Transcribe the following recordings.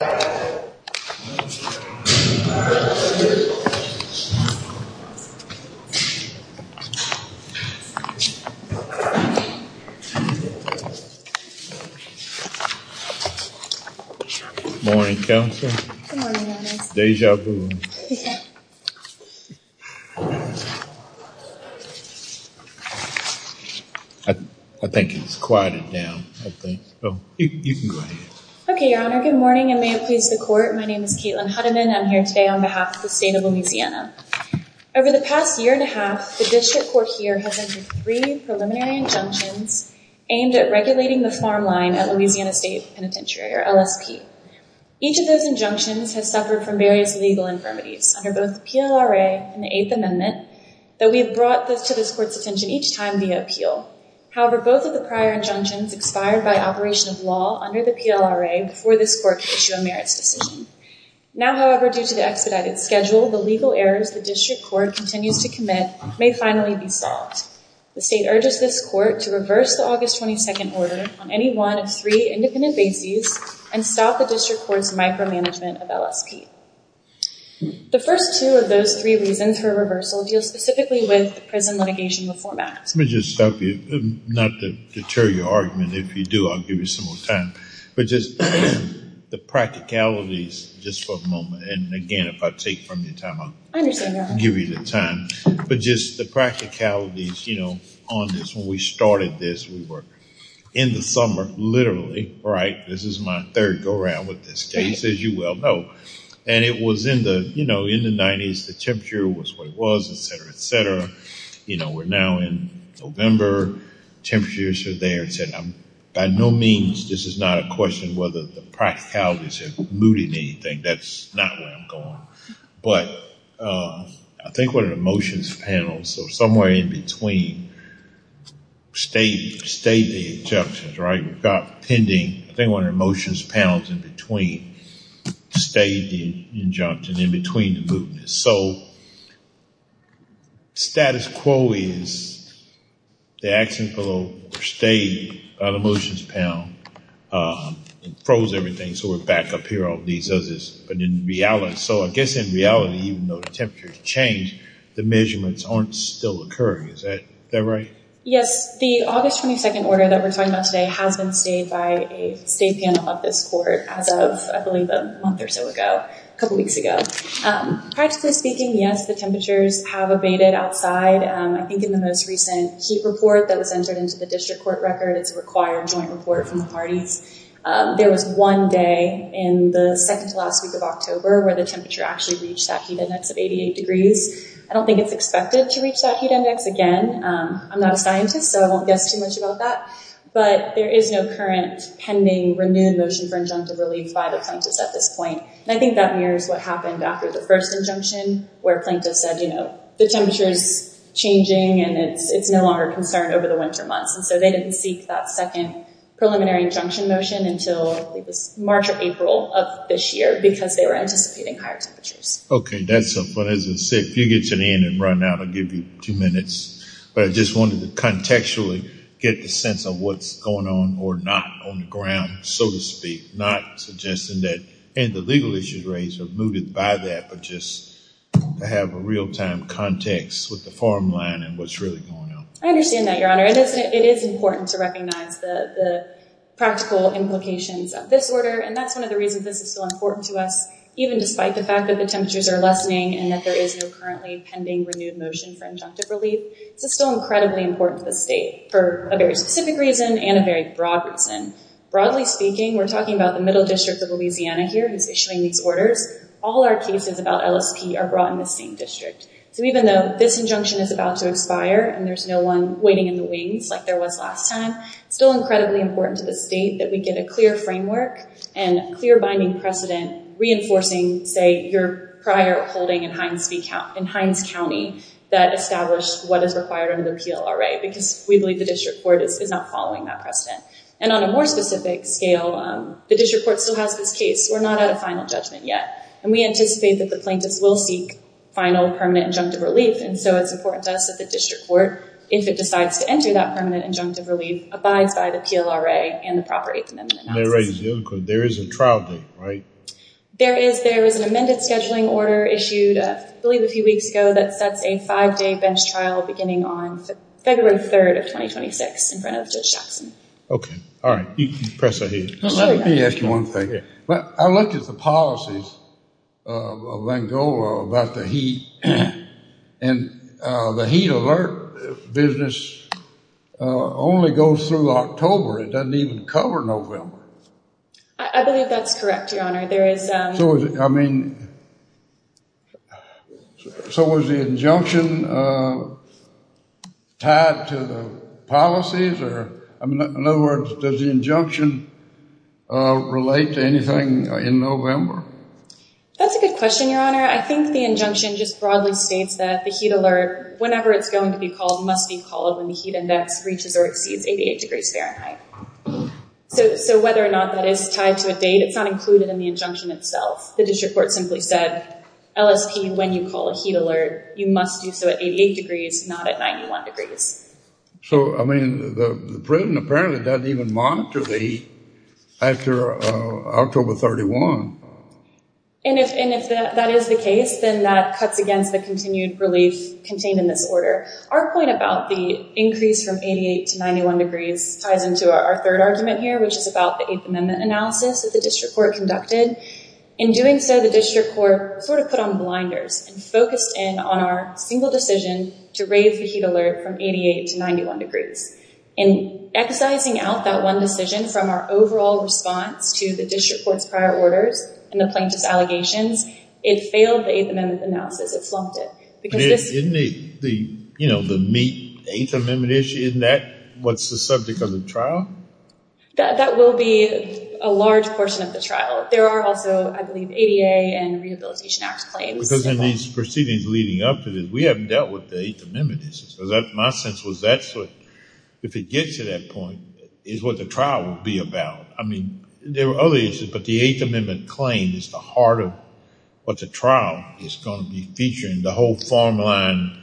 Good morning, Counselor. Good morning, Your Honor. Deja vu. Deja. I think it's quieted down, I think. Oh, you can go ahead. Okay, Your Honor. Good morning, and may it please the Court, my name is Caitlin Hudiman. I'm here today on behalf of the State of Louisiana. Over the past year and a half, the District Court here has entered three preliminary injunctions aimed at regulating the farm line at Louisiana State Penitentiary, or LSP. Each of those injunctions has suffered from various legal infirmities under both the PLRA and the Eighth Amendment, though we have brought this to this Court's attention each time via appeal. However, both of the prior injunctions expired by operation of law under the PLRA before this Court issued a merits decision. Now, however, due to the expedited schedule, the legal errors the District Court continues to commit may finally be solved. The State urges this Court to reverse the August 22nd order on any one of three independent bases and stop the District Court's micromanagement of LSP. The first two of those three reasons for reversal deal specifically with the prison litigation reform act. Let me just stop you, not to deter your argument, if you do, I'll give you some more time, but just the practicalities, just for a moment, and again, if I take from your time, I'll give you the time, but just the practicalities, you know, on this. When we started this, we were in the summer, literally, right? This is my third go-around with this case, as you well know, and it was in the, you know, in the 90s, the temperature was what it was, etc., etc. You know, we're now in November, temperatures are there. By no means, this is not a question whether the practicalities are mooting anything. That's not where I'm going, but I think what an emotions panel, so somewhere in between, state the injunctions, right? We've got pending, I think one of the emotions panels in between, state the injunctions in between the mootness. So, status quo is, the action below the state of the emotions panel, it froze everything, so we're back up here, all these others, but in reality, so I guess in reality, even though the temperature has changed, the measurements aren't still occurring, is that right? Yes, the August 22nd order that we're talking about today has been stayed by a state panel of this court as of, I believe, a month or so ago, a couple weeks ago. Practically speaking, yes, the temperatures have abated outside. I think in the most recent heat report that was entered into the district court record, it's a required joint report from the parties, there was one day in the second to last week of October where the temperature actually reached that heat index of 88 degrees. I don't think it's expected to reach that heat index again. I'm not a scientist, so I won't guess too much about that, but there is no current, pending, renewed motion for injunctive relief by the plaintiffs at this point, and I think that mirrors what happened after the first injunction, where plaintiffs said, you know, the temperature is changing and it's no longer a concern over the winter months, and so they didn't seek that second preliminary injunction motion until March or April of this year, because they were anticipating higher temperatures. Okay, that's something, as I said, if you get your hand up right now, I'll give you two minutes, but I just wanted to contextually get the sense of what's going on or not on the ground, so to speak, not suggesting that the legal issues raised are mooted by that, but just to have a real-time context with the farm line and what's really going on. I understand that, Your Honor. It is important to recognize the practical implications of this order, and that's one of the reasons this is so important to us, even despite the fact that the temperatures are lessening and that there is no currently pending, renewed motion for injunctive relief. This is still incredibly important to the state for a very specific reason and a very broad reason. Broadly speaking, we're talking about the Middle District of Louisiana here who's issuing these orders. All our cases about LSP are brought in the same district, so even though this injunction is about to expire and there's no one waiting in the wings like there was last time, it's still incredibly important to the state that we get a clear framework and clear binding precedent reinforcing, say, your prior holding in Hines County that established what is required under the PLRA, because we believe the district court is not following that precedent. On a more specific scale, the district court still has this case. We're not at a final judgment yet, and we anticipate that the plaintiffs will seek final permanent injunctive relief, and so it's important to us that the district court, if it decides to enter that permanent injunctive relief, abides by the PLRA and the proper 8th Amendment. There is a trial date, right? There is. There is an amended scheduling order issued, I believe a few weeks ago, that sets a five-day bench trial beginning on February 3rd of 2026 in front of Judge Jackson. Okay. All right. Press ahead. Let me ask you one thing. I looked at the policies of Van Gogh about the heat, and the heat alert business only goes through October. It doesn't even cover November. I believe that's correct, Your Honor. I mean, so was the injunction tied to the policies, or in other words, does the injunction relate to anything in November? That's a good question, Your Honor. I think the injunction just broadly states that the heat alert, whenever it's going to be called, must be called when the heat index reaches or exceeds 88 degrees Fahrenheit. So whether or not that is tied to a date, it's not included in the injunction itself. The district court simply said, LSP, when you call a heat alert, you must do so at 88 degrees, not at 91 degrees. So, I mean, the President apparently doesn't even monitor the heat after October 31. And if that is the case, then that cuts against the continued relief contained in this order. Our point about the increase from 88 to 91 degrees ties into our third argument here, which is about the Eighth Amendment analysis that the district court conducted. In doing so, the district court sort of put on blinders and focused in on our single decision to raise the heat alert from 88 to 91 degrees. In exercising out that one decision from our overall response to the district court's prior orders and the plaintiff's allegations, it failed the Eighth Amendment analysis. It slumped it. Isn't the, you know, the meat, the Eighth Amendment issue, isn't that what's the subject of the trial? That will be a large portion of the trial. There are also, I believe, ADA and Rehabilitation Act claims. Because in these proceedings leading up to this, we haven't dealt with the Eighth Amendment. My sense was that's what, if it gets to that point, is what the trial would be about. I mean, there were other issues, but the Eighth Amendment claim is the heart of what the farmland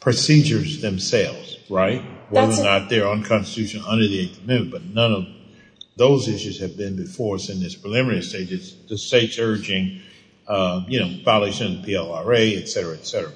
procedures themselves, right? Whether or not they're unconstitutional under the Eighth Amendment, but none of those issues have been before us in this preliminary stage. It's the state's urging, you know, violation of PLRA, etc., etc.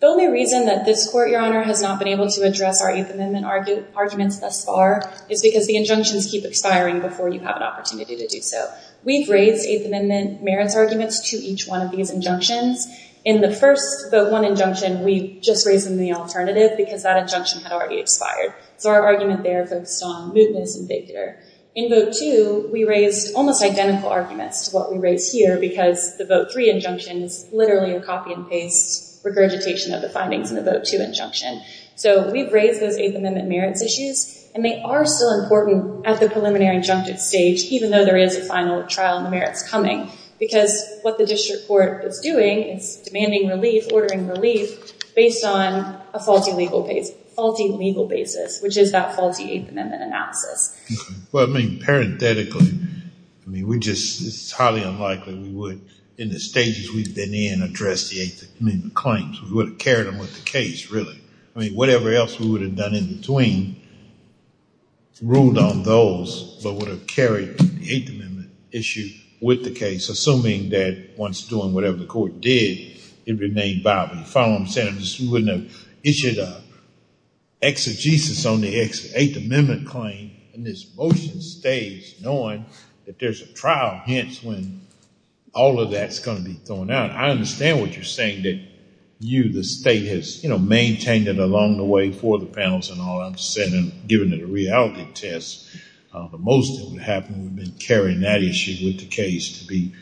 The only reason that this court, Your Honor, has not been able to address our Eighth Amendment arguments thus far is because the injunctions keep expiring before you have an opportunity to do so. We've raised Eighth Amendment merits arguments to each one of these injunctions. In the first Vote 1 injunction, we just raised them the alternative because that injunction had already expired. So our argument there focused on mootness and vigor. In Vote 2, we raised almost identical arguments to what we raised here because the Vote 3 injunction is literally a copy and paste regurgitation of the findings in the Vote 2 injunction. So we've raised those Eighth Amendment merits issues, and they are still important at the preliminary injunctive stage, even though there is a Because what the district court is doing is demanding relief, ordering relief, based on a faulty legal basis, which is that faulty Eighth Amendment analysis. Well, I mean, parenthetically, I mean, we just, it's highly unlikely we would, in the stages we've been in, address the Eighth Amendment claims. We would have carried them with the case, really. I mean, whatever else we would have done in between ruled on those but would have carried the Eighth Amendment issue with the case, assuming that once doing whatever the court did, it remained viable. You follow what I'm saying? We wouldn't have issued an exegesis on the Eighth Amendment claim, and this motion stays knowing that there's a trial, hence when all of that's going to be thrown out. I understand what you're saying, that you, the state, has maintained it along the way for the panels and all. I'm just saying, given the reality test, the most that would have happened would have been carrying that issue with the case to be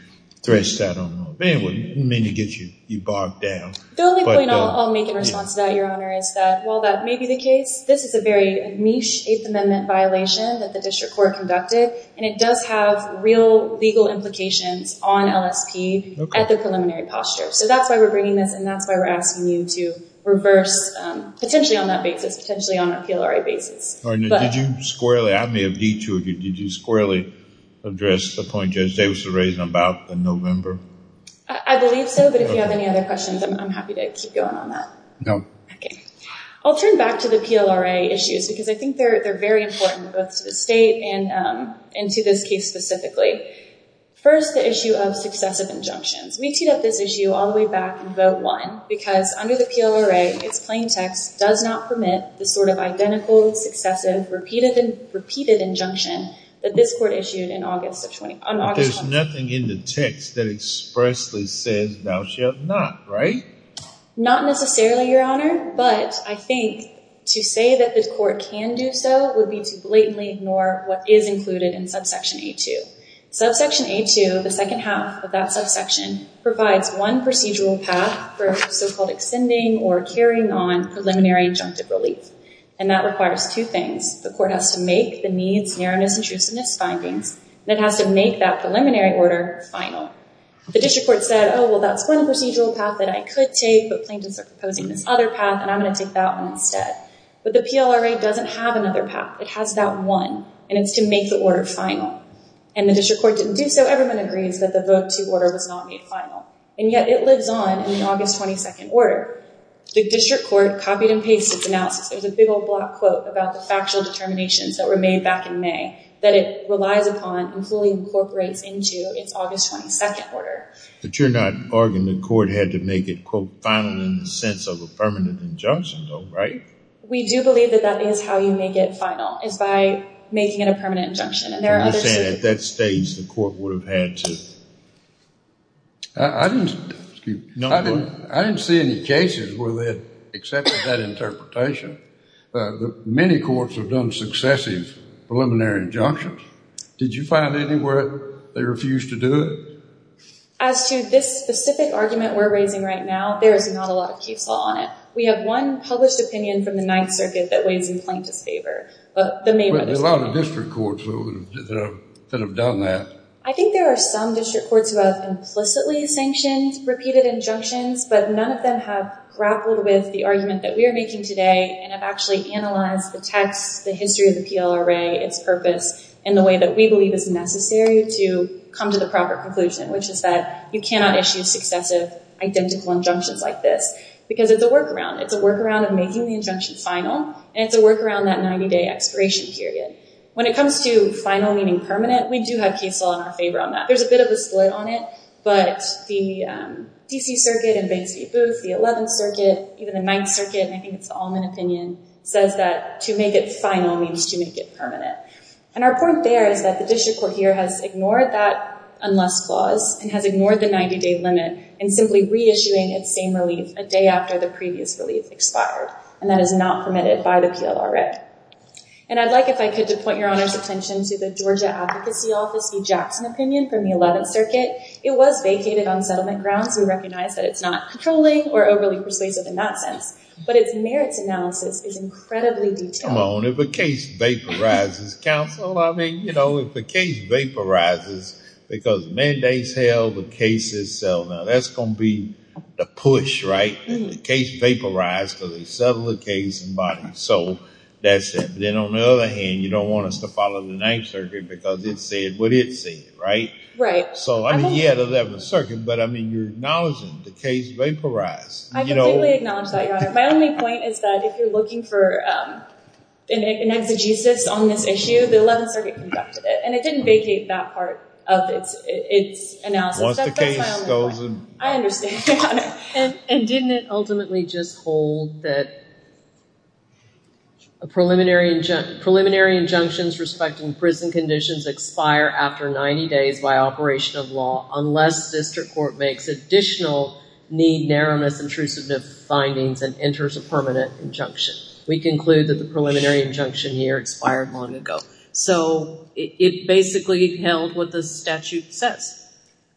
threshed out on the law. It wouldn't mean to get you bogged down. The only point I'll make in response to that, Your Honor, is that while that may be the case, this is a very niche Eighth Amendment violation that the district court conducted, and it does have real legal implications on LSP at the preliminary posture. So that's why we're bringing this, and that's why we're asking you to reverse, potentially on that basis, potentially on a PLRA basis. Did you squarely, I may have detoured you, did you squarely address the point Judge Davis raised about the November? I believe so, but if you have any other questions, I'm happy to keep going on that. No. Okay. I'll turn back to the PLRA issues, because I think they're very important, both to the state and to this case specifically. First, the issue of successive injunctions. We teed up this issue all the way back in Vote 1, because under the PLRA, its plain text does not permit the sort of identical, successive, repeated injunction that this court issued on August 20th. There's nothing in the text that expressly says thou shalt not, right? Not necessarily, Your Honor, but I think to say that this court can do so would be to blatantly ignore what is included in subsection A2. Subsection A2, the second half of that subsection, provides one procedural path for so-called extending or carrying on preliminary injunctive relief, and that requires two things. The court has to make the needs, narrowness, and truesomeness findings, and it has to make that preliminary order final. The district court said, oh, well, that's one procedural path that I could take, but plaintiffs are proposing this other path, and I'm going to take that one instead. But the PLRA doesn't have another path. It has that one, and it's to make the order final, and the district court didn't do so. Everyone agrees that the Vote 2 order was not made final, and yet it lives on in the August 22nd order. The district court copied and pasted its analysis. There's a big old block quote about the factual determinations that were made back in May that it relies upon and fully incorporates into its August 22nd order. But you're not arguing the court had to make it, quote, final in the sense of a permanent injunction, though, right? We do believe that that is how you make it final, is by making it a permanent injunction, and there are other... You're saying at that stage the court would have had to... I didn't see any cases where they had accepted that interpretation. Many courts have done successive preliminary injunctions. Did you find anywhere they refused to do it? As to this specific argument we're raising right now, there is not a lot of case law on it. We have one published opinion from the Ninth Circuit that weighs in plaintiff's favor. But there are a lot of district courts that have done that. I think there are some district courts who have implicitly sanctioned repeated injunctions, but none of them have grappled with the argument that we are making today and have actually analyzed the text, the history of the PLRA, its purpose, in the way that we believe is necessary to come to the proper conclusion, which is that you cannot issue successive identical injunctions like this, because it's a workaround. It's a workaround of making the injunction final, and it's a workaround that 90-day expiration period. When it comes to final meaning permanent, we do have case law in our favor on that. There's a bit of a split on it, but the DC Circuit and Bates v. Booth, the Eleventh Circuit, even the Ninth Circuit, and I think it's the Allman opinion, says that to make it final means to make it permanent. And our point there is that the district court here has ignored that unless clause and has ignored the 90-day limit in simply reissuing its same relief a day after the previous relief expired, and that is not permitted by the circuit. And I'd like, if I could, to point your Honor's attention to the Georgia Advocacy Office v. Jackson opinion from the Eleventh Circuit. It was vacated on settlement grounds. We recognize that it's not controlling or overly persuasive in that sense, but its merits analysis is incredibly detailed. Come on, if a case vaporizes, counsel, I mean, you know, if the case vaporizes because mandates held, the case is settled. Now that's gonna be the push, right? The case vaporized because they settled the case in body. So that's it. Then on the other hand, you don't want us to follow the Ninth Circuit because it said what it said, right? Right. So I mean, yeah, the Eleventh Circuit, but I mean, you're acknowledging the case vaporized. I completely acknowledge that, Your Honor. My only point is that if you're looking for an exegesis on this issue, the Eleventh Circuit conducted it, and it didn't vacate that part of its analysis. Once the case goes in body. I understand, Your Honor. And didn't it ultimately just hold that a preliminary injunction, preliminary injunctions respecting prison conditions expire after 90 days by operation of law unless district court makes additional need-narrowness-intrusiveness findings and enters a permanent injunction. We conclude that the preliminary injunction here expired long ago. So it basically held what the statute says.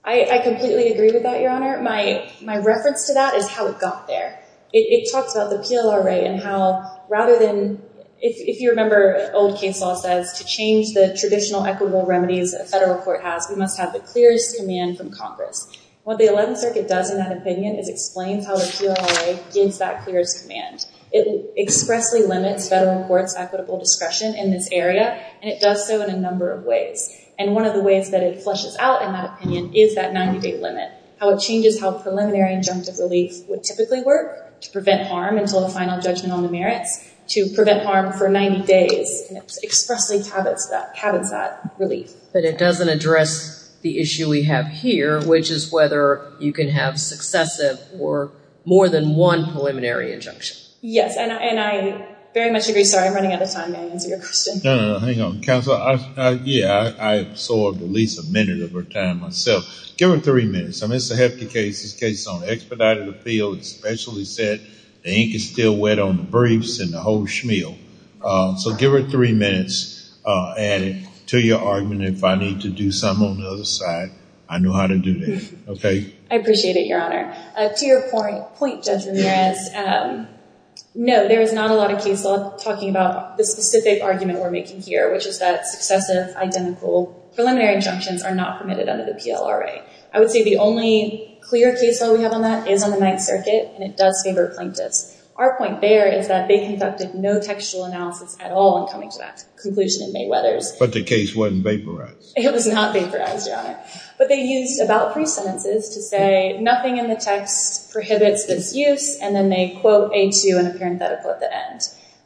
I completely agree with that, Your Honor. My reference to that is how it got there. It talks about the PLRA and how rather than, if you remember old case law says to change the traditional equitable remedies a federal court has, we must have the clearest command from Congress. What the Eleventh Circuit does in that opinion is explains how the PLRA gives that clearest command. It expressly limits federal courts equitable discretion in this area, and it does so in a number of ways. And one of the ways that it flushes out in that opinion is that 90-day limit. How it changes how preliminary injunctive relief would typically work to prevent harm until the final judgment on the merits, to prevent harm for 90 days. It expressly tabits that, tabits that relief. But it doesn't address the issue we have here, which is whether you can have successive or more than one preliminary injunction. Yes, and I very much agree. Sorry, I'm running out of time. May I answer your question? No, no, no. Hang on. Counselor, yeah, I absorbed at least a minute of her time myself. Give her three minutes. I mean, it's a hefty case. It's a case on expedited appeal. It's specially set. The ink is still wet on the briefs and the whole shmeal. So give her three minutes and to your argument if I need to do something on the other side, I know how to do that. Okay? I appreciate it, Your Honor. To your point, Judge Ramirez, no, there is not a lot of case law talking about the specific argument we're making here, which is that successive identical preliminary injunctions are not permitted under the PLRA. I would say the only clear case law we have on that is on the Ninth Circuit and it does favor plaintiffs. Our point there is that they conducted no textual analysis at all in coming to that conclusion in May Weathers. But the case wasn't vaporized. It was not vaporized, Your Honor. But they used about brief sentences to say nothing in the text prohibits this use and then they quote A2 in a parenthetical at the end.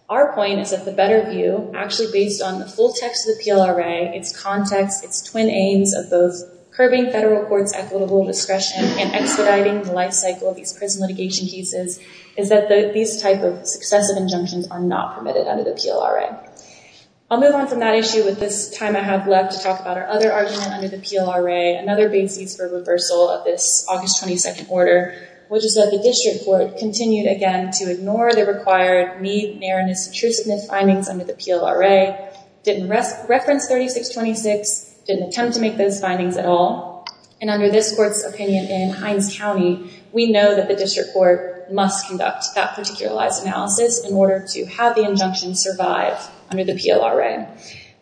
Our point is that the better view, actually based on the full text of the PLRA, its context, its twin aims of those curbing federal courts equitable discretion and expediting the lifecycle of these prison litigation cases, is that these type of successive injunctions are not permitted under the PLRA. I'll move on from that issue with this time I have left to talk about our other argument under the PLRA, another base for reversal of this August 22nd order, which is that the district court continued again to ignore the required Mead, Nairn, and Isatrus Smith findings under the PLRA, didn't reference 3626, didn't attempt to make those findings at all, and under this court's opinion in Hines County, we know that the district court must conduct that particularized analysis in order to have the injunction survive under the PLRA.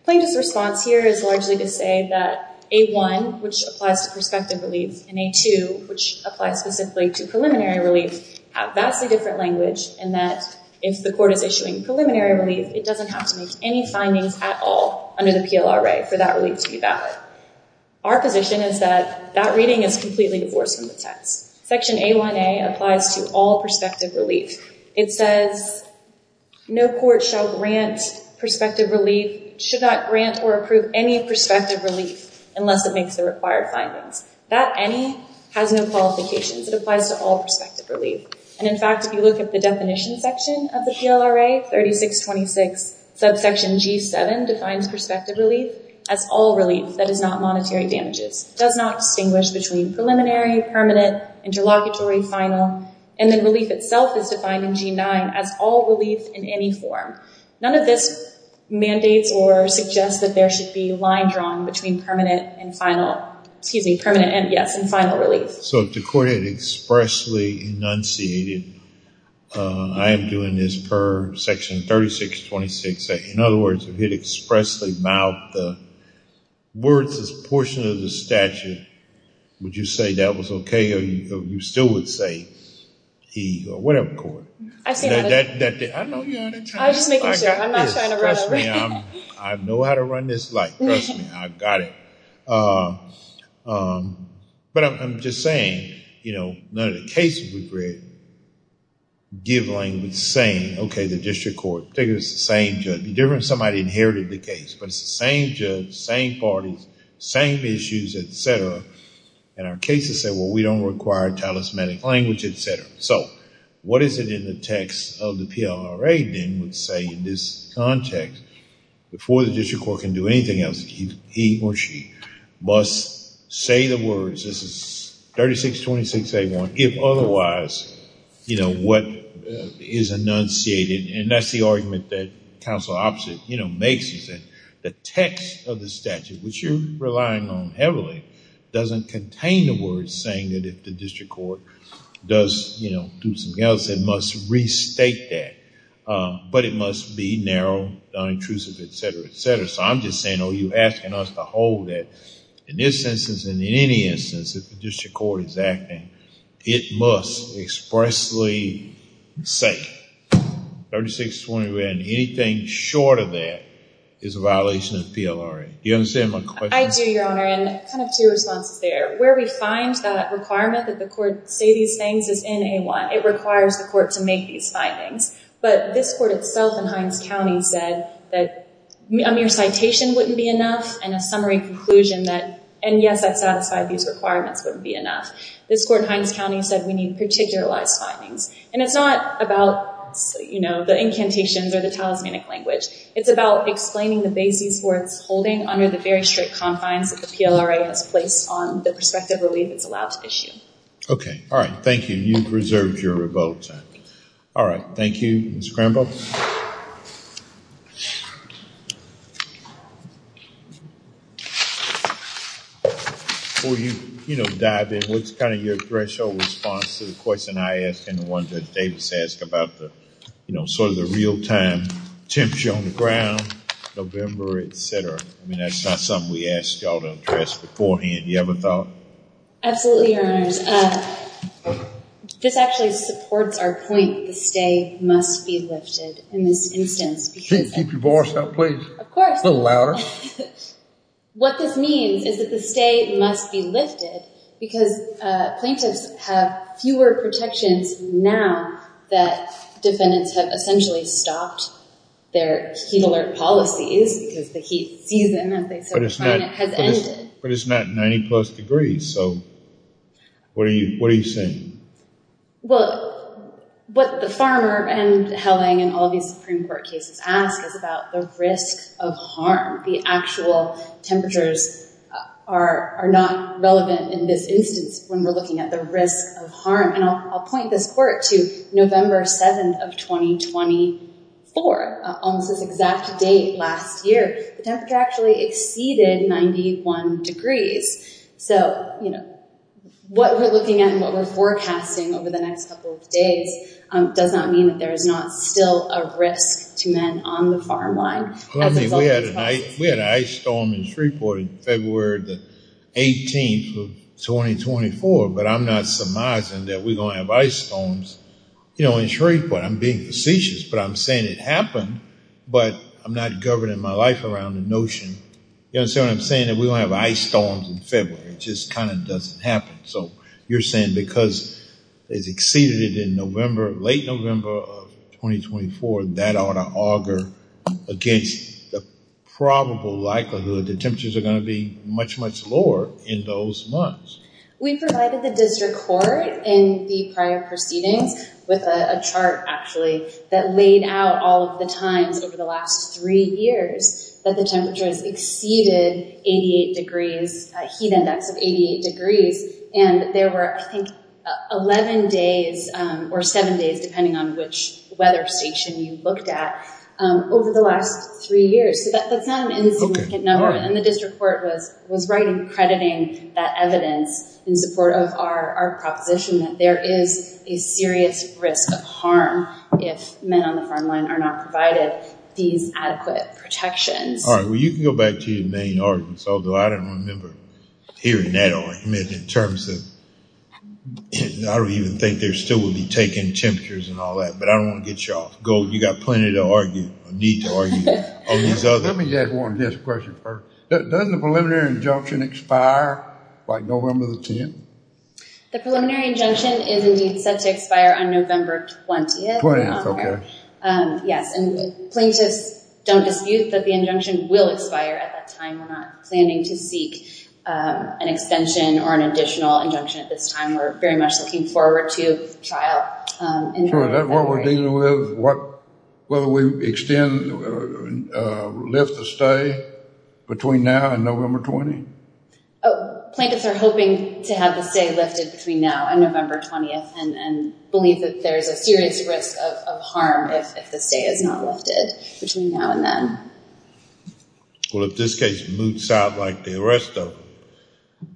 Plaintiff's response here is largely to say that A1, which applies to perspective relief, and A2, which applies specifically to preliminary relief, have vastly different language and that if the court is issuing preliminary relief, it doesn't have to make any findings at all under the PLRA for that relief to be valid. Our position is that that reading is completely divorced from the text. Section A1a applies to all perspective relief. It says no court shall grant perspective relief, should not grant or approve any perspective relief, unless it makes the required findings. That any has no qualifications. It applies to all perspective relief, and in fact if you look at the definition section of the PLRA, 3626 subsection G7 defines perspective relief as all relief that is not monetary damages, does not distinguish between preliminary, permanent, interlocutory, final, and then relief itself is defined in G9 as all relief in any form. None of this mandates or suggests that there should be line drawn between permanent and final, excuse me, permanent and yes, and final relief. So if the court had expressly enunciated, I am doing this per section 3626, in other words, if it expressly mouthed the words this portion of the statute, would you say that was okay or you still would say that was okay? I'm just making sure. I'm not trying to run over. Trust me, I know how to run this light. Trust me, I've got it. But I'm just saying, you know, none of the cases we've read give language saying, okay, the district court figures the same judge, different somebody inherited the case, but it's the same judge, same parties, same issues, et cetera, and our cases say, well, we don't require talismanic language, et cetera. So what is it in the text of the PLRA then would say in this context before the district court can do anything else, he or she must say the words, this is 3626A1, if otherwise, you know, what is enunciated, and that's the argument that counsel opposite makes is that the text of the statute, which you're relying on heavily, doesn't contain the words saying that if the district court does, you know, do something else, it must restate that, but it must be narrow, non-intrusive, et cetera, et cetera. So I'm just saying, oh, you're asking us to hold it. In this instance and in any instance, if the district court is acting, it must expressly say 3626A1, anything short of that is a violation of PLRA. Do you understand my question? I do, Your Honor, and kind of two responses there. Where we find that requirement that the court say these things is in A1. It requires the court to make these findings, but this court itself in Hines County said that a mere citation wouldn't be enough and a summary conclusion that, and yes, that satisfied these requirements wouldn't be enough. This court in Hines County said we need particularized findings, and it's not about, you know, the incantations or the talismanic language. It's about explaining the basis where it's holding under the very strict confines that the PLRA has placed on the perspective relief it's allowed to issue. Okay. All right. Thank you. You've reserved your vote. All right. Thank you, Ms. Cranbo. Before you, you know, dive in, what's kind of your threshold response to the question I asked and the one that Davis asked about the, you know, sort of the real-time temperature on the ground, November, etc. I mean, that's not something we asked y'all to address beforehand. You ever thought? Absolutely, Your Honors. This actually supports our point. The stay must be lifted in this instance. Keep your voice up, please. Of course. A little louder. What this means is that the stay must be lifted because plaintiffs have fewer protections now that defendants have essentially stopped their heat alert policies because the heat season, as they say, has ended. But it's not 90-plus degrees, so what are you saying? Well, what the farmer and Helling and all these Supreme Court cases ask is about the risk of harm. The actual temperatures are not relevant in this instance when we're looking at the risk of harm, and I'll point this court to November 7th of 2024, almost this exact date last year, the temperature actually exceeded 91 degrees. So, you know, what we're looking at and what we're forecasting over the next couple of days does not mean that there is not still a risk to men on the farm line. We had an ice storm in Shreveport in February the 18th of 2024, but I'm not surmising that we're going to have ice storms, you know, in Shreveport. I'm being facetious, but I'm saying it happened, but I'm not governing my life around the notion. You understand what I'm saying? That we're going to have ice storms in February. It just kind of doesn't happen. So you're saying because it's exceeded in November, late November of 2024, that ought to auger against the probable likelihood that temperatures are going to be much, much lower in those months. We provided the district court in the prior proceedings with a chart, actually, that laid out all of the times over the last three years that the temperatures exceeded 88 degrees, a heat index of 88 degrees, and there were, I think, 11 days or seven days, depending on which weather station you looked at, over the last three years. So that's not an insignificant number, and the district court was right in crediting that evidence in support of our proposition that there is a serious risk of harm if men on the front line are not provided these adequate protections. All right, well, you can go back to your main arguments, although I don't remember hearing that argument in terms of, I don't even think there still would be taken temperatures and all that, but I don't want to cut you off. You've got plenty to argue, or need to argue. Let me just ask one just question first. Doesn't the preliminary injunction expire by November the 10th? The preliminary injunction is indeed set to expire on November 20th. 20th, okay. Yes, and plaintiffs don't dispute that the injunction will expire at that time. We're not planning to seek an extension or an additional injunction at this time. We're very much looking forward to a trial. So is that what we're dealing with? Will we extend or lift the stay between now and November 20th? Plaintiffs are hoping to have the stay lifted between now and November 20th and believe that there's a serious risk of harm if the stay is not lifted between now and then. Well, if this case moots out like the rest of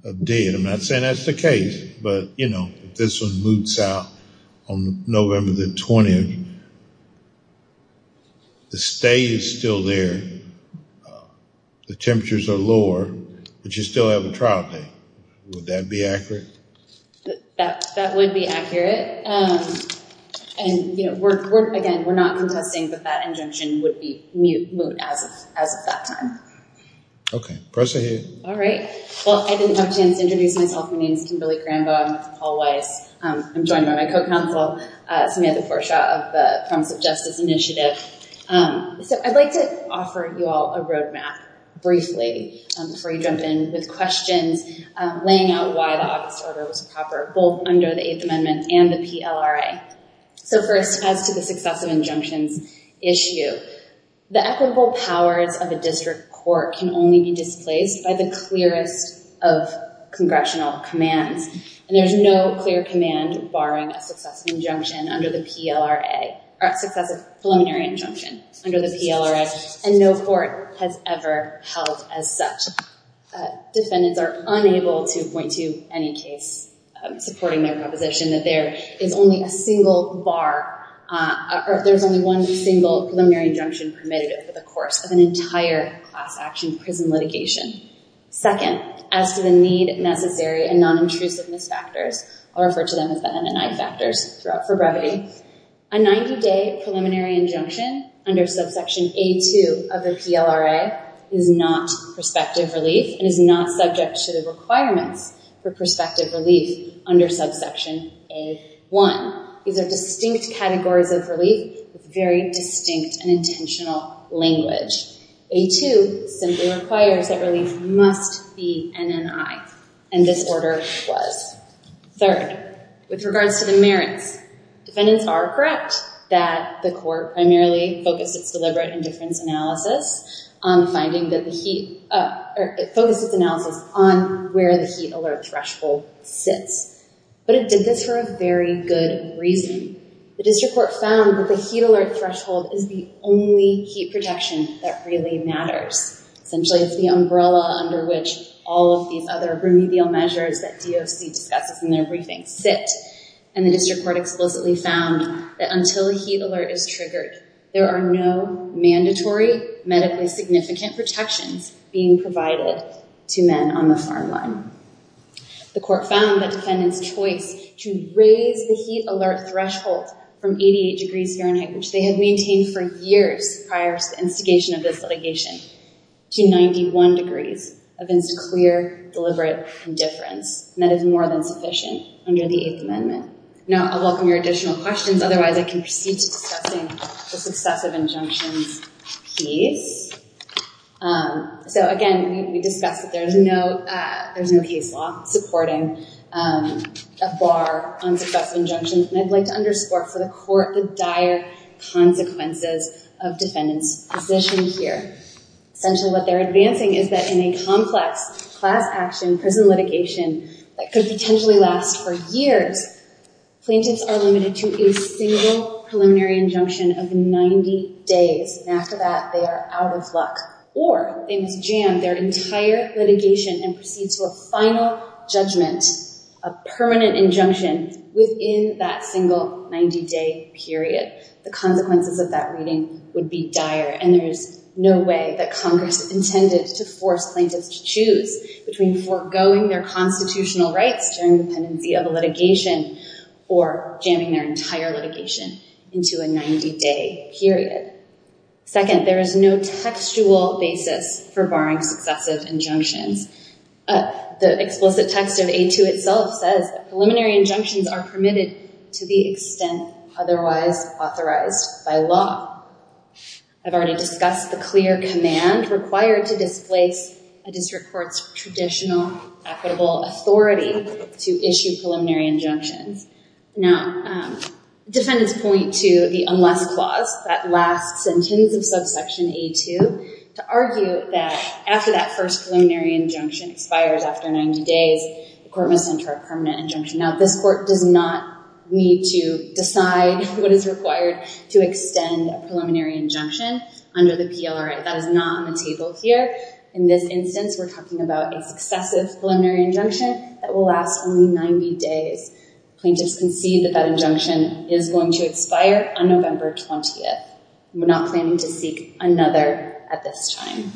the day, and I'm not saying that's the case, but you know, if this one moots out on November the 20th, the stay is still there. The temperatures are lower, but you still have a trial date. Would that be accurate? That would be accurate, and you know, we're again, we're not contesting that that injunction would be moot as of that time. Okay, press ahead. All right, well, I didn't have a chance to introduce myself. My name is Kimberly Cranbo. I'm with Paul Weiss. I'm joined by my co-counsel, Samantha Forshaw of the Promise of Justice Initiative. So I'd like to offer you all a roadmap briefly before you jump in with questions, laying out why the August order was proper, both under the Eighth Amendment and the PLRA. So first, as to the successive injunctions issue, the equitable powers of a district court can only be displaced by the clearest of congressional commands, and there's no clear command barring a successive injunction under the PLRA, or successive preliminary injunction under the PLRA, and no court has ever held as such. Defendants are unable to point to any case supporting their proposition that there is only a single bar, or there's only one single preliminary injunction permitted over the course of an entire class action prison litigation. Second, as to the need, necessary, and non-intrusiveness factors, I'll refer to them as the NNI factors throughout for brevity, a 90-day preliminary injunction under subsection A2 of the PLRA is not prospective relief, and is not subject to the requirements for prospective relief under subsection A1. These are distinct categories of relief with very distinct and intentional language. A2 simply requires that relief must be NNI, and this order was. Third, with regards to the merits, defendants are correct that the court primarily focused its deliberate indifference analysis on finding that the heat, or it focused its analysis on where the heat alert threshold sits, but it did this for a very good reason. The district court found that the heat alert threshold is the only heat protection that really matters. Essentially, it's the umbrella under which all of these other remedial measures that DOC discusses in their briefings sit, and the district court explicitly found that until a heat alert is triggered, there are no mandatory medically significant protections being provided to men on the farm line. The court found that defendants' choice to raise the heat alert threshold from 88 degrees Fahrenheit, which they had maintained for years prior to the instigation of this litigation, to 91 degrees against clear, deliberate indifference, and that is more than sufficient under the Eighth Amendment. Now, I welcome your additional questions. Otherwise, I can proceed to discussing the successive injunctions piece. Again, we discussed that there's no case law supporting a bar on successive injunctions, and I'd like to underscore for the dire consequences of defendants' position here. Essentially, what they're advancing is that in a complex class action prison litigation that could potentially last for years, plaintiffs are limited to a single preliminary injunction of 90 days, and after that, they are out of luck, or they must jam their entire litigation and proceed to a final judgment, a permanent injunction within that single 90-day period. The consequences of that reading would be dire, and there is no way that Congress intended to force plaintiffs to choose between foregoing their constitutional rights during the pendency of a litigation or jamming their entire litigation into a 90-day period. Second, there is no textual basis for barring successive injunctions. The explicit text of A2 itself says that preliminary injunctions are permitted to the extent otherwise authorized by law. I've already discussed the clear command required to displace a district court's traditional equitable authority to issue preliminary injunctions. Now, defendants point to the unless clause, that last sentence of subsection A2, to argue that after that first preliminary injunction expires after 90 days, the court must enter a permanent injunction. Now, this court does not need to decide what is required to extend a preliminary injunction under the PLRA. That is not on the table here. In this instance, we're talking about a successive preliminary injunction that will last only 90 days. Plaintiffs concede that that injunction is going to expire on November 20th. We're not planning to seek another at this time.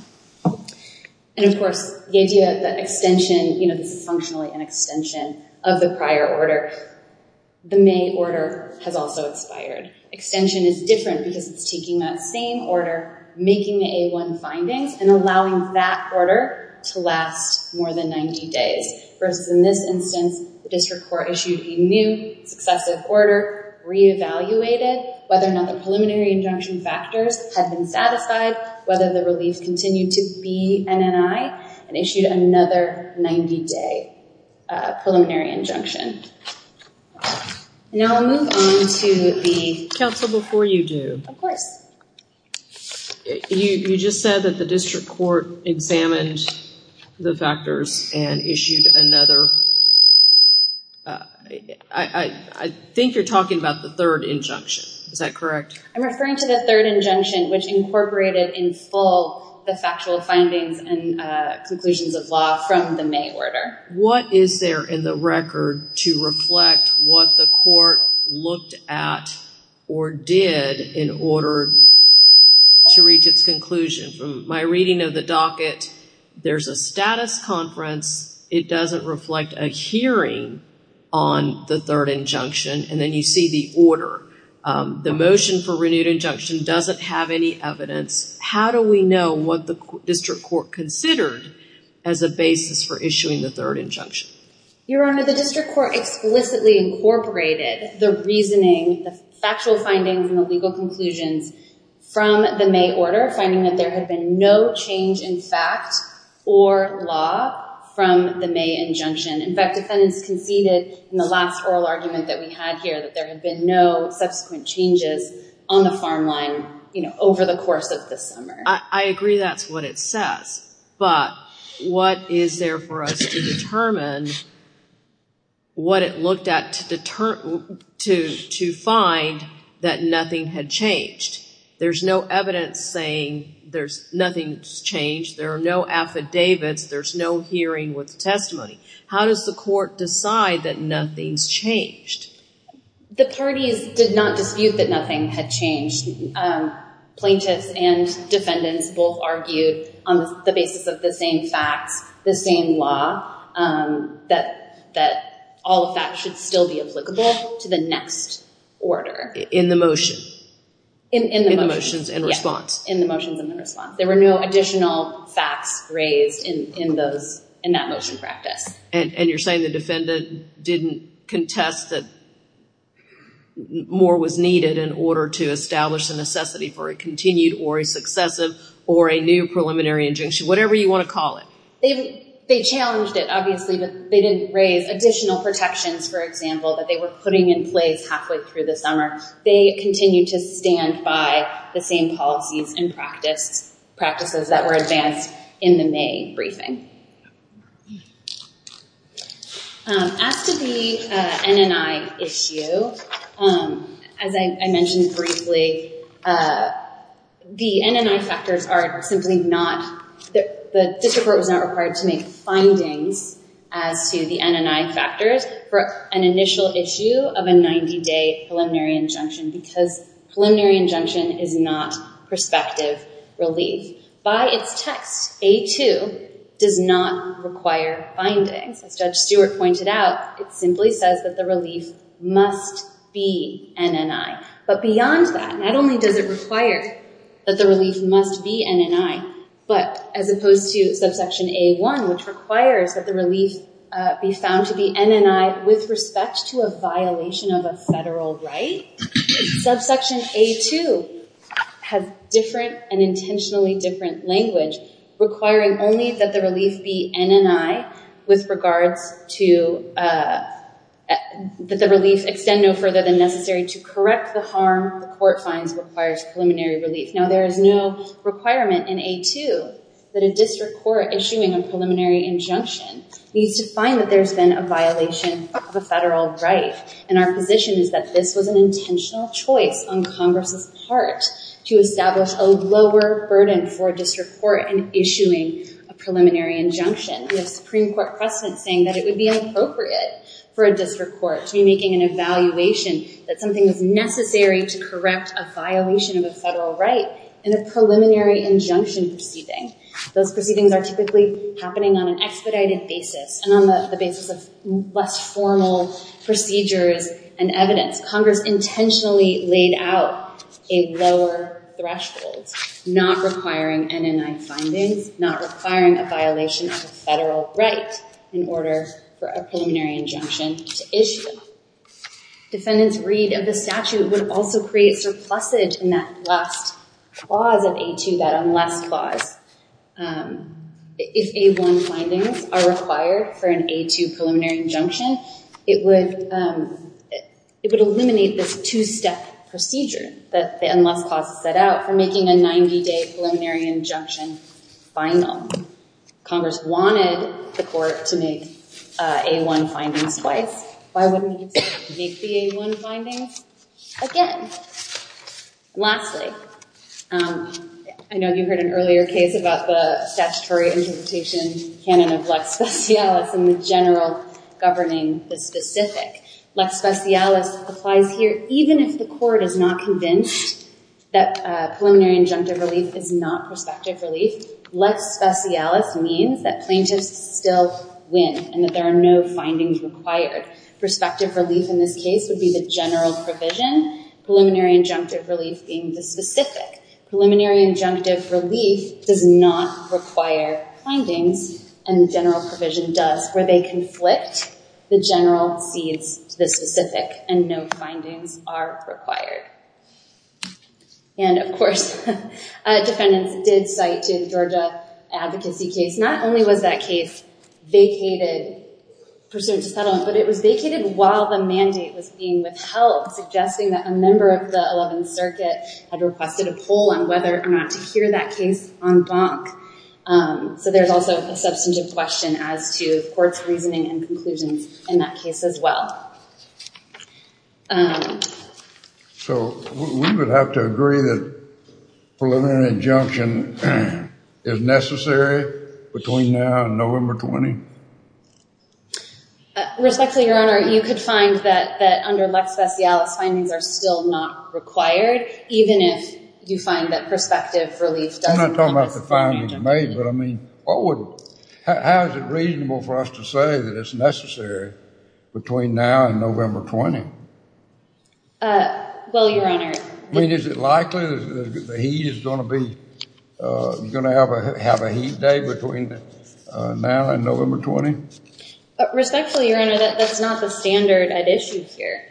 And of course, the idea that extension, this is functionally an extension of the prior order. The May order has also expired. Extension is different because it's taking that same order, making the A1 findings, and allowing that order to last more than 90 days. Versus in this instance, the district court issued a new successive order, re-evaluated whether or not the preliminary injunction factors had been satisfied, whether the relief continued to be NNI, and issued another 90-day preliminary injunction. Now, I'll move on to the- Counsel, before you do- Of course. You just said that the district court examined the factors and issued another- I think you're talking about the third injunction. Is that correct? I'm referring to the third injunction, which incorporated in full the factual findings and conclusions of law from the May order. What is there in the record to reflect what the court looked at or did in order to reach its conclusion? From my reading of the docket, there's a status conference. It doesn't reflect a hearing on the third injunction. And then you see the order. The motion for renewed injunction doesn't have any evidence. How do we know what the district court considered as a basis for issuing the third injunction? Your Honor, the district court explicitly incorporated the reasoning, the factual findings, and the legal conclusions from the May order, finding that there had been no change in fact or law from the May injunction. In fact, defendants conceded in the last oral argument that we had here that there had been no subsequent changes on the farm line over the course of the summer. I agree that's what it says. But what is there for us to determine what it looked at to find that nothing had changed? There's no evidence saying nothing's changed. There are no affidavits. There's no hearing with testimony. How does the court decide that nothing's changed? The parties did not dispute that nothing had changed. Plaintiffs and defendants both argued on the basis of the same facts, the same law, that all the facts should still be applicable to the next order. In the motion. In the motions and response. In the motions and response. There were no additional facts raised in that motion practice. You're saying the defendant didn't contest that more was needed in order to establish the necessity for a continued or a successive or a new preliminary injunction, whatever you want to call it. They challenged it, obviously, but they didn't raise additional protections, for example, that they were putting in place halfway through the summer. They continued to stand by the same policies and practices that were advanced in the May briefing. As to the NNI issue, as I mentioned briefly, the NNI factors are simply not, the district court was not required to make findings as to the NNI factors for an initial issue of a 90-day preliminary injunction because preliminary injunction is not prospective relief. By its text, A2 does not require findings. As Judge Stewart pointed out, it simply says that the relief must be NNI. But beyond that, not only does it require that the relief must be NNI, but as opposed to subsection A1, which requires that the relief be found to be NNI with respect to violation of a federal right, subsection A2 has different and intentionally different language requiring only that the relief be NNI with regards to that the relief extend no further than necessary to correct the harm the court finds requires preliminary relief. Now, there is no requirement in A2 that a district court issuing a preliminary injunction needs to find that there's been a violation of a federal right, and our position is that this was an intentional choice on Congress's part to establish a lower burden for a district court in issuing a preliminary injunction. We have Supreme Court precedent saying that it would be inappropriate for a district court to be making an evaluation that something is necessary to correct a violation of a federal right in a preliminary injunction proceeding. Those proceedings are typically happening on an expedited basis and on the basis of less formal procedures and evidence. Congress intentionally laid out a lower threshold, not requiring NNI findings, not requiring a violation of a federal right in order for a preliminary injunction to issue. Defendant's read of the statute would also create surplusage in that last clause of A2, that unless clause, if A1 findings are required for an A2 preliminary injunction, it would eliminate this two-step procedure that the unless clause set out for making a 90-day preliminary injunction final. Congress wanted the court to make A1 findings twice. Why wouldn't it make the A1 findings again? Lastly, I know you heard an earlier case about the statutory interpretation canon of lex specialis and the general governing the specific. Lex specialis applies here even if the court is not convinced that preliminary injunctive relief is not prospective relief. Lex specialis means that plaintiffs still win and that there are no findings required. Prospective relief in this case would be the general provision. Preliminary injunctive relief being the specific. Preliminary injunctive relief does not require findings and general provision does where they conflict the general seeds to the specific and no findings are required. Of course, defendants did cite to the Georgia advocacy case. Not only was that case vacated pursuant to settlement, but it was vacated while the mandate was being withheld, suggesting that a member of the 11th circuit had requested a poll on whether or not to hear that case en banc. So there's also a substantive question as to court's reasoning and conclusions in that case as well. So we would have to agree that preliminary injunction is necessary between now and November 20? Respectfully, Your Honor, you could find that under Lex specialis findings are still not required, even if you find that prospective relief doesn't come with preliminary injunction. I'm not talking about the findings made, but I mean, how is it reasonable for us to say that it's necessary between now and November 20? Well, Your Honor. I mean, is it likely that he is going to have a heat day between now and November 20? Respectfully, Your Honor, that's not the standard at issue here.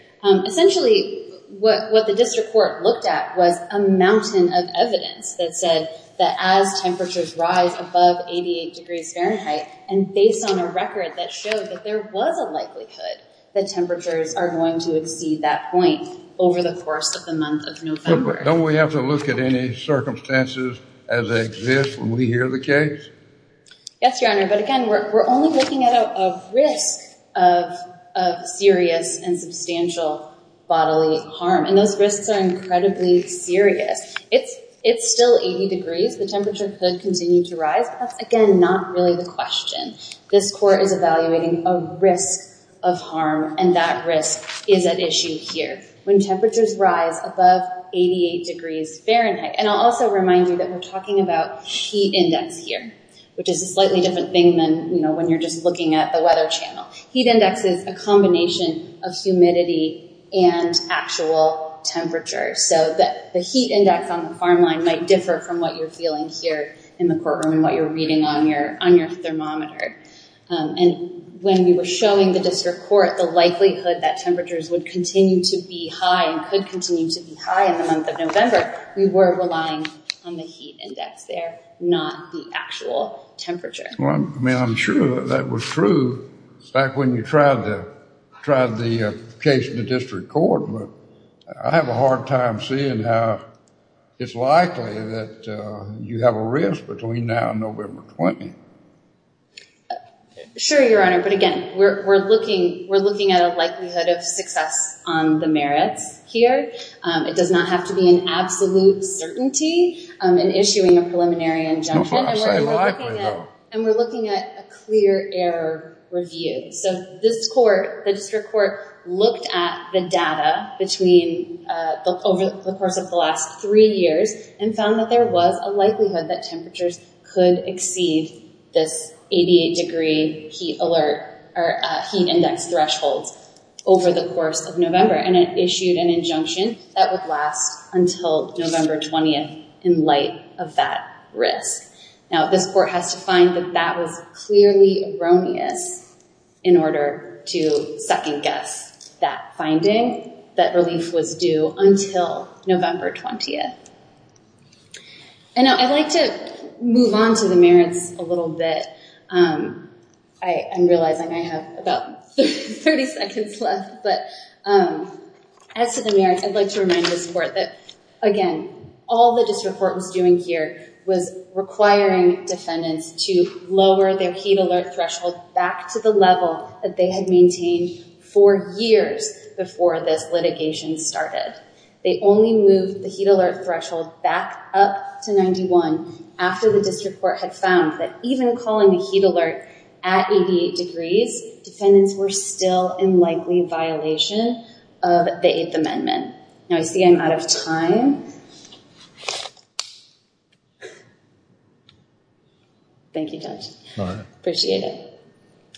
Essentially, what the district court looked at was a mountain of evidence that said that as temperatures rise above 88 degrees Fahrenheit and based on a record that showed that there was a likelihood that temperatures are going to exceed that point over the course of the month of November. Don't we have to look at any circumstances as they exist when we hear the case? Yes, Your Honor. But again, we're only looking at a risk of serious and substantial bodily harm. And those risks are incredibly serious. It's still 80 degrees. The temperature could continue to rise. That's again, not really the question. This court is evaluating a risk of harm and that risk is at issue here when temperatures rise above 88 degrees Fahrenheit. And I'll also remind you that we're talking about heat index here, which is a slightly different thing than when you're just looking at the weather channel. Heat index is a combination of humidity and actual temperature. So the heat index on the farm line might differ from what you're feeling here in the courtroom and what you're reading on your thermometer. And when we were showing the district court the likelihood that temperatures would continue to be high and could continue to be high in the month of November, we were relying on the heat index there, not the actual temperature. Well, I mean, I'm sure that that was true back when you tried the case in the district court. But I have a hard time seeing how it's likely that you have a risk between now and November 20. Sure, Your Honor. But again, we're looking at a likelihood of success on the merits here. It does not have to be an absolute certainty in issuing a preliminary injunction. Not so likely, though. And we're looking at a clear error review. So this court, the district court, looked at the data over the course of the last three years and found that there was a likelihood that temperatures could exceed this 88 degree heat alert or heat index thresholds over the course of November. And it issued an injunction that would last until November 20 in light of that risk. Now, this court has to find that that was clearly erroneous in order to second guess that finding that relief was due until November 20. And I'd like to move on to the merits a little bit. I am realizing I have about 30 seconds left. But as to the merits, I'd like to remind this court that, again, all the district court was doing here was requiring defendants to lower their heat alert threshold back to the level that they had maintained for years before this litigation started. They only moved the heat alert threshold back up to 91 after the district court had found that even calling the heat alert at 88 degrees, defendants were still in likely violation of the Eighth Amendment. Now, I see I'm out of time. Thank you, Judge. Appreciate it.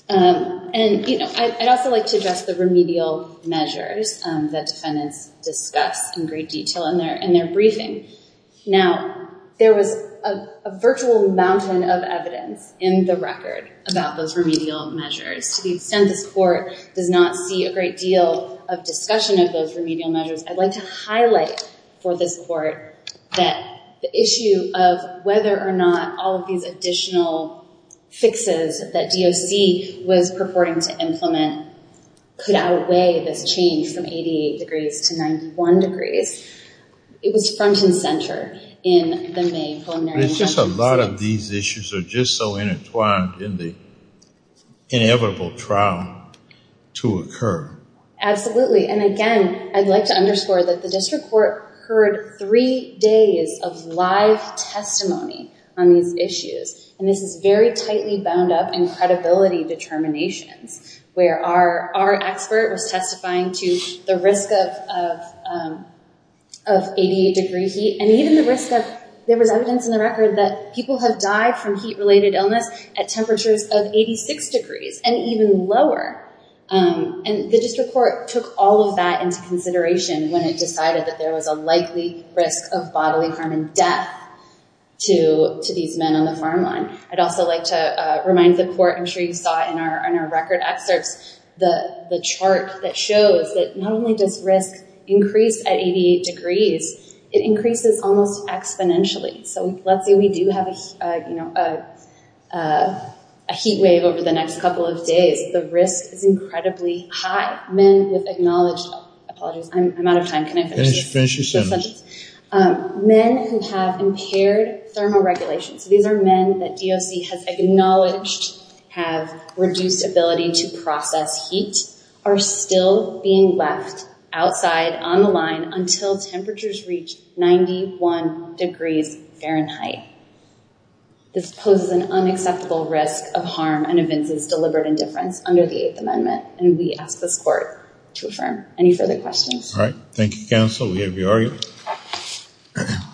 And I'd also like to address the remedial measures that defendants discuss in great detail in their briefing. Now, there was a virtual mountain of evidence in the record about those remedial measures. To the extent this court does not see a great deal of discussion of those remedial measures, I'd like to highlight for this court that the issue of whether or not all of these additional fixes that DOC was purporting to implement could outweigh this change from 88 degrees to 91 degrees. It was front and center in the main preliminary... It's just a lot of these issues are just so intertwined in the inevitable trial to occur. Absolutely. And again, I'd like to underscore that the district court heard three days of live testimony on these issues. And this is very tightly bound up in credibility determinations, where our expert was testifying to the risk of 88 degree heat. And even the risk of... There was evidence in the record that people have died from heat-related illness at temperatures of 86 degrees and even lower. And the district court took all of that into consideration when it decided that there was a likely risk of bodily harm and death to these men on the farm line. I'd also like to remind the court, I'm sure you saw in our record excerpts, the chart that shows that not only does risk increase at 88 degrees, it increases almost exponentially. So let's say we do have a heat wave over the next couple of days, the risk is incredibly high. Men with acknowledged... Apologies, I'm out of time. Can I finish this? Men who have impaired thermoregulation, so these are men that DOC has acknowledged have reduced ability to process heat, are still being left outside on the line until temperatures reach 91 degrees Fahrenheit. This poses an unacceptable risk of harm and evinces deliberate indifference under the Eighth Amendment. And we ask this court to affirm. Any further questions? All right. Thank you, counsel. We have your argument.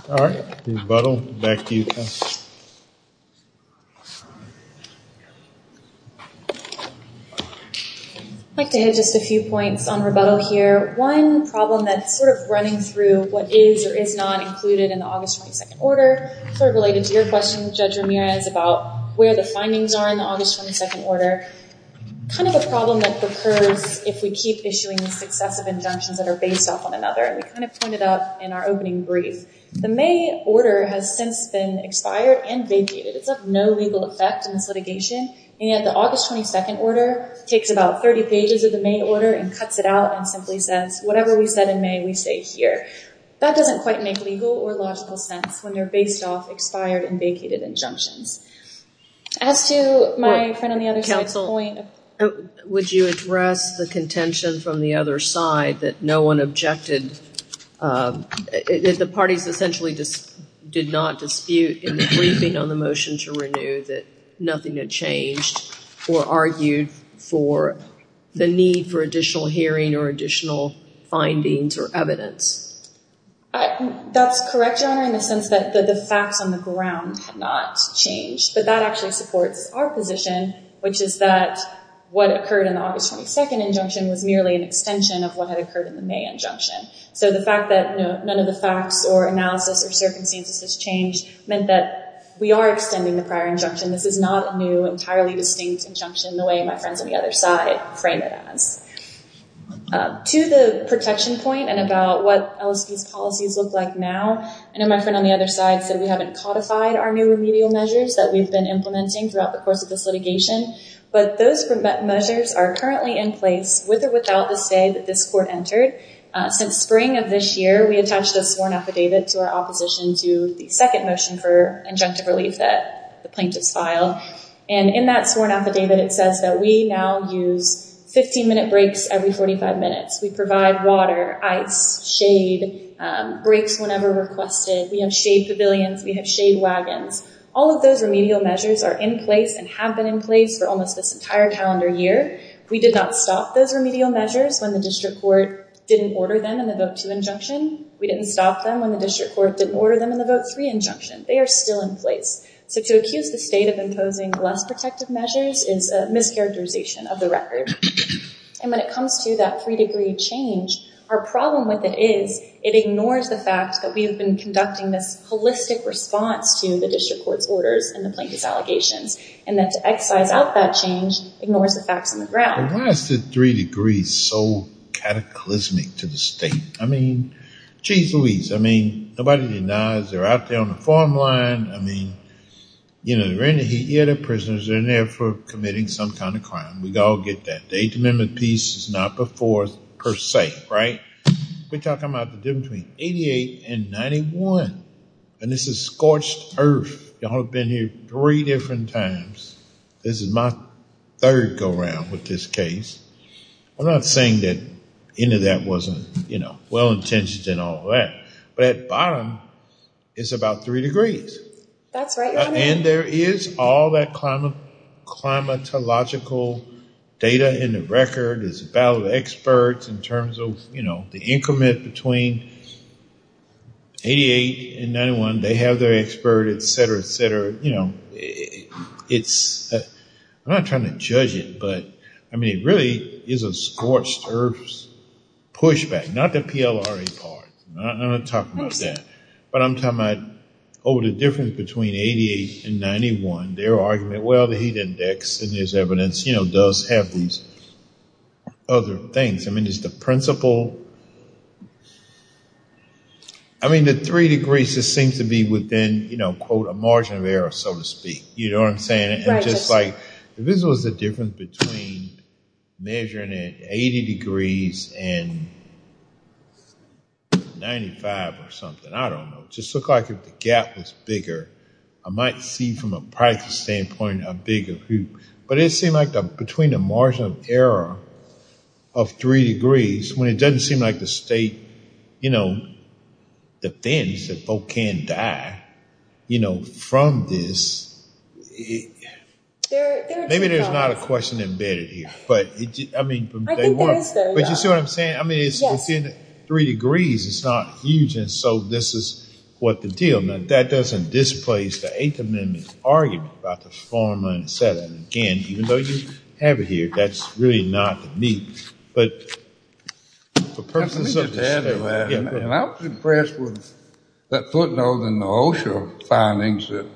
All right. Rebuttal. Back to you, counsel. I'd like to hit just a few points on rebuttal here. One problem that's sort of running through what is or is not included in the August 22nd order, sort of related to your question, Judge Ramirez, about where the findings are in the August 22nd order. Kind of a problem that occurs if we keep issuing successive injunctions that are based off one another. And we kind of pointed out in our opening brief, the May order has since been expired and vacated. It's of no legal effect in this litigation. And yet the August 22nd order takes about 30 pages of the May order and cuts it out and simply says, whatever we said in May, we say here. That doesn't quite make legal or logical sense when you're based off expired and vacated injunctions. As to my friend on the other side's point. Would you address the contention from the other side that no one objected, that the parties essentially did not dispute in the briefing on the motion to renew that nothing had changed or argued for the need for additional hearing or additional findings or evidence? That's correct, Your Honor, in the sense that the facts on the ground had not changed. But that actually supports our position, which is that what occurred in the August 22nd injunction was merely an extension of what had occurred in the May injunction. So the fact that none of the facts or analysis or circumstances has changed meant that we are extending the prior injunction. This is not a new, entirely distinct injunction the way my friends on the other side frame it as. To the protection point and about what LSB's policies look like now. I know my friend on the other side said we haven't codified our new remedial measures that we've been implementing throughout the course of this litigation. But those measures are currently in place with or without the say that this court entered. Since spring of this year, we attached a sworn affidavit to our opposition to the second motion for injunctive relief that the plaintiffs filed. And in that sworn affidavit, it says that we now use 15-minute breaks every 45 minutes. We provide water, ice, shade, breaks whenever requested. We have shade pavilions. We have shade wagons. All of those remedial measures are in place and have been in place for almost this entire calendar year. We did not stop those remedial measures when the district court didn't order them in the vote two injunction. We didn't stop them when the district court didn't order them in the vote three injunction. They are still in place. So to accuse the state of imposing less protective measures is a mischaracterization of the record. And when it comes to that three degree change, our problem with it is it ignores the fact that we have been conducting this holistic response to the district court's orders and the plaintiff's allegations. And that to excise out that change ignores the facts on the ground. But why is the three degrees so cataclysmic to the state? I mean, geez Louise, I mean, nobody denies they're out there on the farm line. I mean, you know, they're in the heat. Yeah, they're prisoners. They're in there for committing some kind of crime. We all get that. The Eighth Amendment piece is not before us per se, right? We're talking about the difference between 88 and 91. And this is scorched earth. Y'all have been here three different times. This is my third go around with this case. I'm not saying that any of that wasn't, you know, well-intentioned and all that. But at bottom, it's about three degrees. That's right. And there is all that climatological data in the record. It's a battle of experts in terms of, you know, the increment between 88 and 91. They have their expert, et cetera, et cetera. You know, I'm not trying to judge it, but I mean, it really is a scorched earth pushback. Not the PLRA part. I'm not going to talk about that. But I'm talking about over the difference between 88 and 91, their argument, well, heat index and there's evidence, you know, does have these other things. I mean, it's the principle. I mean, the three degrees just seems to be within, you know, quote, a margin of error, so to speak. You know what I'm saying? Right. And just like, this was the difference between measuring it 80 degrees and 95 or something. I don't know. Just look like if the gap was bigger, I might see from a practical standpoint, a bigger group. But it seemed like between the margin of error of three degrees, when it doesn't seem like the state, you know, defends that folk can't die, you know, from this. Maybe there's not a question embedded here, but I mean, but you see what I'm saying? I mean, it's three degrees. It's not huge. And so this is what the deal meant. That doesn't displace the Eighth Amendment argument about the four minus seven. Again, even though you have it here, that's really not the need. But for purposes of the state. And I was impressed with that footnote in the OSHA findings that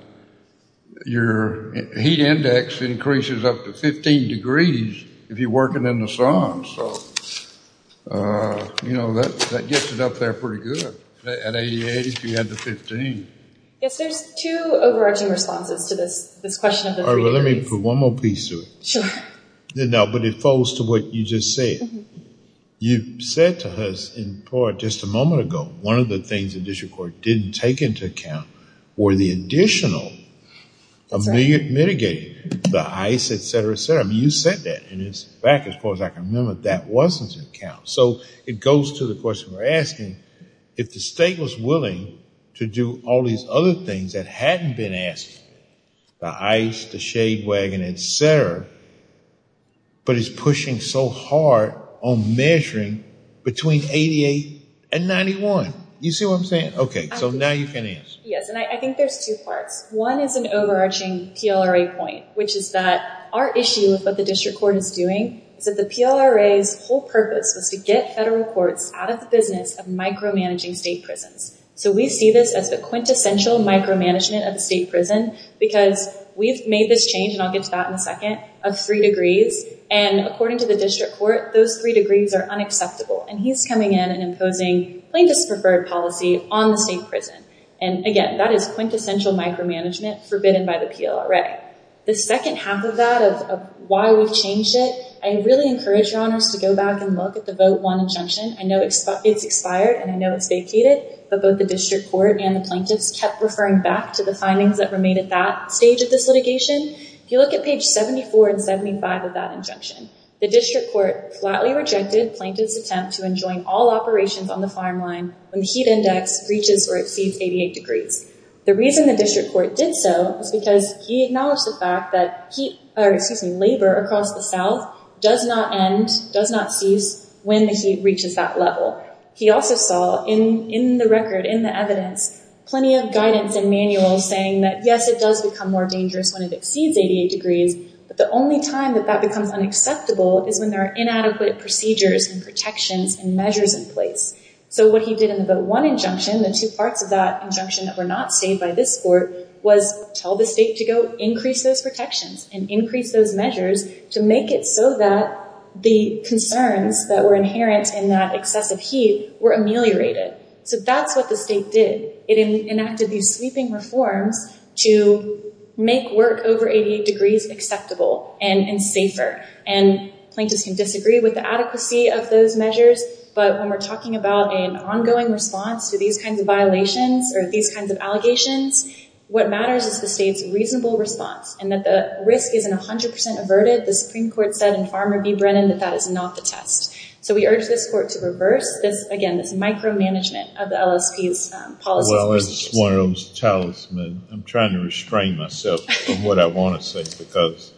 your heat index increases up to 15 degrees if you're working in the sun. So, you know, that gets it up there pretty good. At 88, if you had the 15. Yes, there's two overarching responses to this question of the three degrees. All right. Well, let me put one more piece to it. Sure. No, but it falls to what you just said. You said to us in part just a moment ago, one of the things the district court didn't take into account were the additional mitigating, the ice, et cetera, et cetera. I mean, you said that. Back as far as I can remember, that wasn't in account. So it goes to the question we're asking, if the state was willing to do all these other things that hadn't been asked, the ice, the shade wagon, et cetera, but is pushing so hard on measuring between 88 and 91. You see what I'm saying? Okay. So now you can answer. Yes. And I think there's two parts. One is an overarching PLRA point, which is that our issue with what the district court is doing is that the PLRA's whole purpose was to get federal courts out of the business of micromanaging state prisons. So we see this as the quintessential micromanagement of the state prison because we've made this change, and I'll get to that in a second, of three degrees. And according to the district court, those three degrees are unacceptable. And he's coming in and imposing plaintiff's preferred policy on the state prison. And again, that is quintessential micromanagement forbidden by the PLRA. The second half of that, of why we've changed it, I really encourage your honors to go back and look at the vote one injunction. I know it's expired and I know it's vacated, but both the district court and the plaintiffs kept referring back to the findings that were made at that stage of this litigation. If you look at page 74 and 75 of that injunction, the district court flatly rejected plaintiff's attempt to enjoin all operations on the farm line when the heat index breaches or exceeds 88 degrees. The reason the district court did so was because he acknowledged the fact that labor across the South does not end, does not cease when the heat reaches that level. He also saw in the record, in the evidence, plenty of guidance and manuals saying that, yes, it does become more dangerous when it exceeds 88 degrees, but the only time that that becomes unacceptable is when there are inadequate procedures and protections and measures in place. What he did in the vote one injunction, the two parts of that injunction that were not saved by this court, was tell the state to go increase those protections and increase those measures to make it so that the concerns that were inherent in that excessive heat were ameliorated. That's what the state did. It enacted these sweeping reforms to make work over 88 degrees acceptable and safer. Plaintiffs can disagree with the adequacy of those measures, but when we're talking about an ongoing response to these kinds of violations or these kinds of allegations, what matters is the state's reasonable response and that the risk isn't 100% averted. The Supreme Court said in Farmer v. Brennan that that is not the test. We urge this court to reverse this, again, this micromanagement of the LSP's policies. Well, as one of those talismans, I'm trying to restrain myself from what I want to say because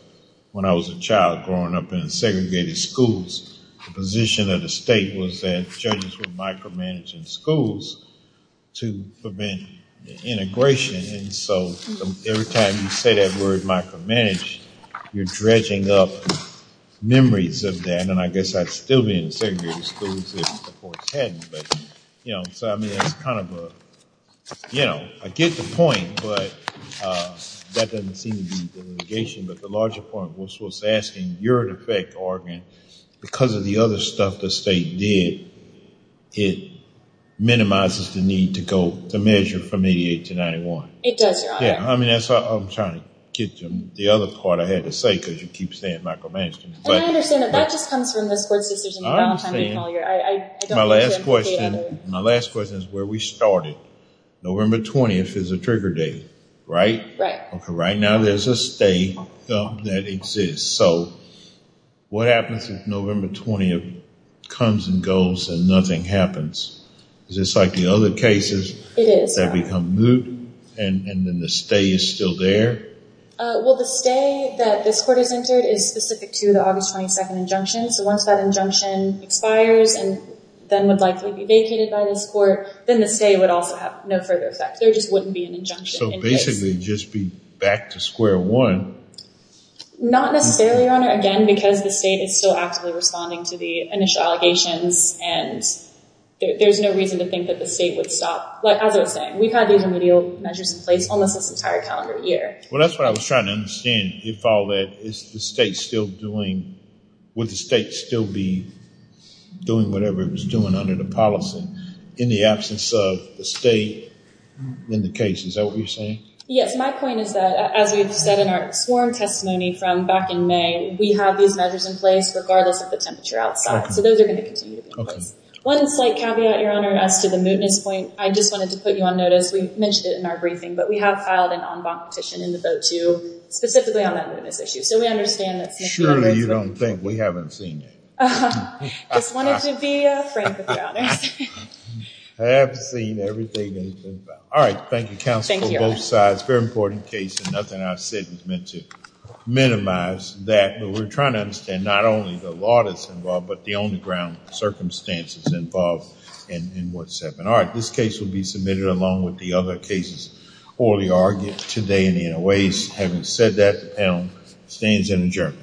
when I was a child growing up in segregated schools, the position of the state was that judges were micromanaging schools to prevent the integration. Every time you say that word micromanage, you're dredging up memories of that, and I guess I'd still be in segregated schools if the courts hadn't. So I mean, that's kind of a, you know, I get the point, but that doesn't seem to be the litigation. But the larger point was asking, you're in effect arguing, because of the other stuff the state did, it minimizes the need to go to measure from 88 to 91. It does, Your Honor. Yeah, I mean, that's what I'm trying to get to. The other part I had to say, because you keep saying micromanaging. And I understand that. That just comes from the sports decisions. I understand. My last question is where we started. November 20th is a trigger date, right? Right. Right now there's a stay that exists. So what happens if November 20th comes and goes and nothing happens? Is this like the other cases that become moot and then the stay is still there? Well, the stay that this court has entered is specific to the August 22nd injunction. So once that injunction expires and then would likely be vacated by this court, then the stay would also have no further effect. There just wouldn't be an injunction. So basically just be back to square one. Not necessarily, Your Honor. Again, because the state is still actively responding to the initial allegations. And there's no reason to think that the state would stop. Like I was saying, we've had these remedial measures in place almost this entire calendar year. Well, that's what I was trying to understand. If all that is the state still doing, would the state still be doing whatever it was doing under the policy in the absence of the state in the case? Is that what you're saying? Yes. My point is that as we've said in our swarm testimony from back in May, we have these measures in place regardless of the temperature outside. So those are going to continue to be in place. One slight caveat, Your Honor, as to the mootness point. I just wanted to put you on notice. We mentioned it in our briefing, but we have filed an en banc petition in the vote to specifically on that mootness issue. So we understand that- Surely you don't think we haven't seen it. I just wanted to be frank with you, Your Honor. I have seen everything. All right. Thank you, counsel, on both sides. Very important case and nothing I've said is meant to minimize that. But we're trying to understand not only the law that's involved, but the on the ground circumstances involved in what's happening. All right. This case will be submitted along with the other cases orally argued today in the in a ways. Having said that, the panel stands in adjournment.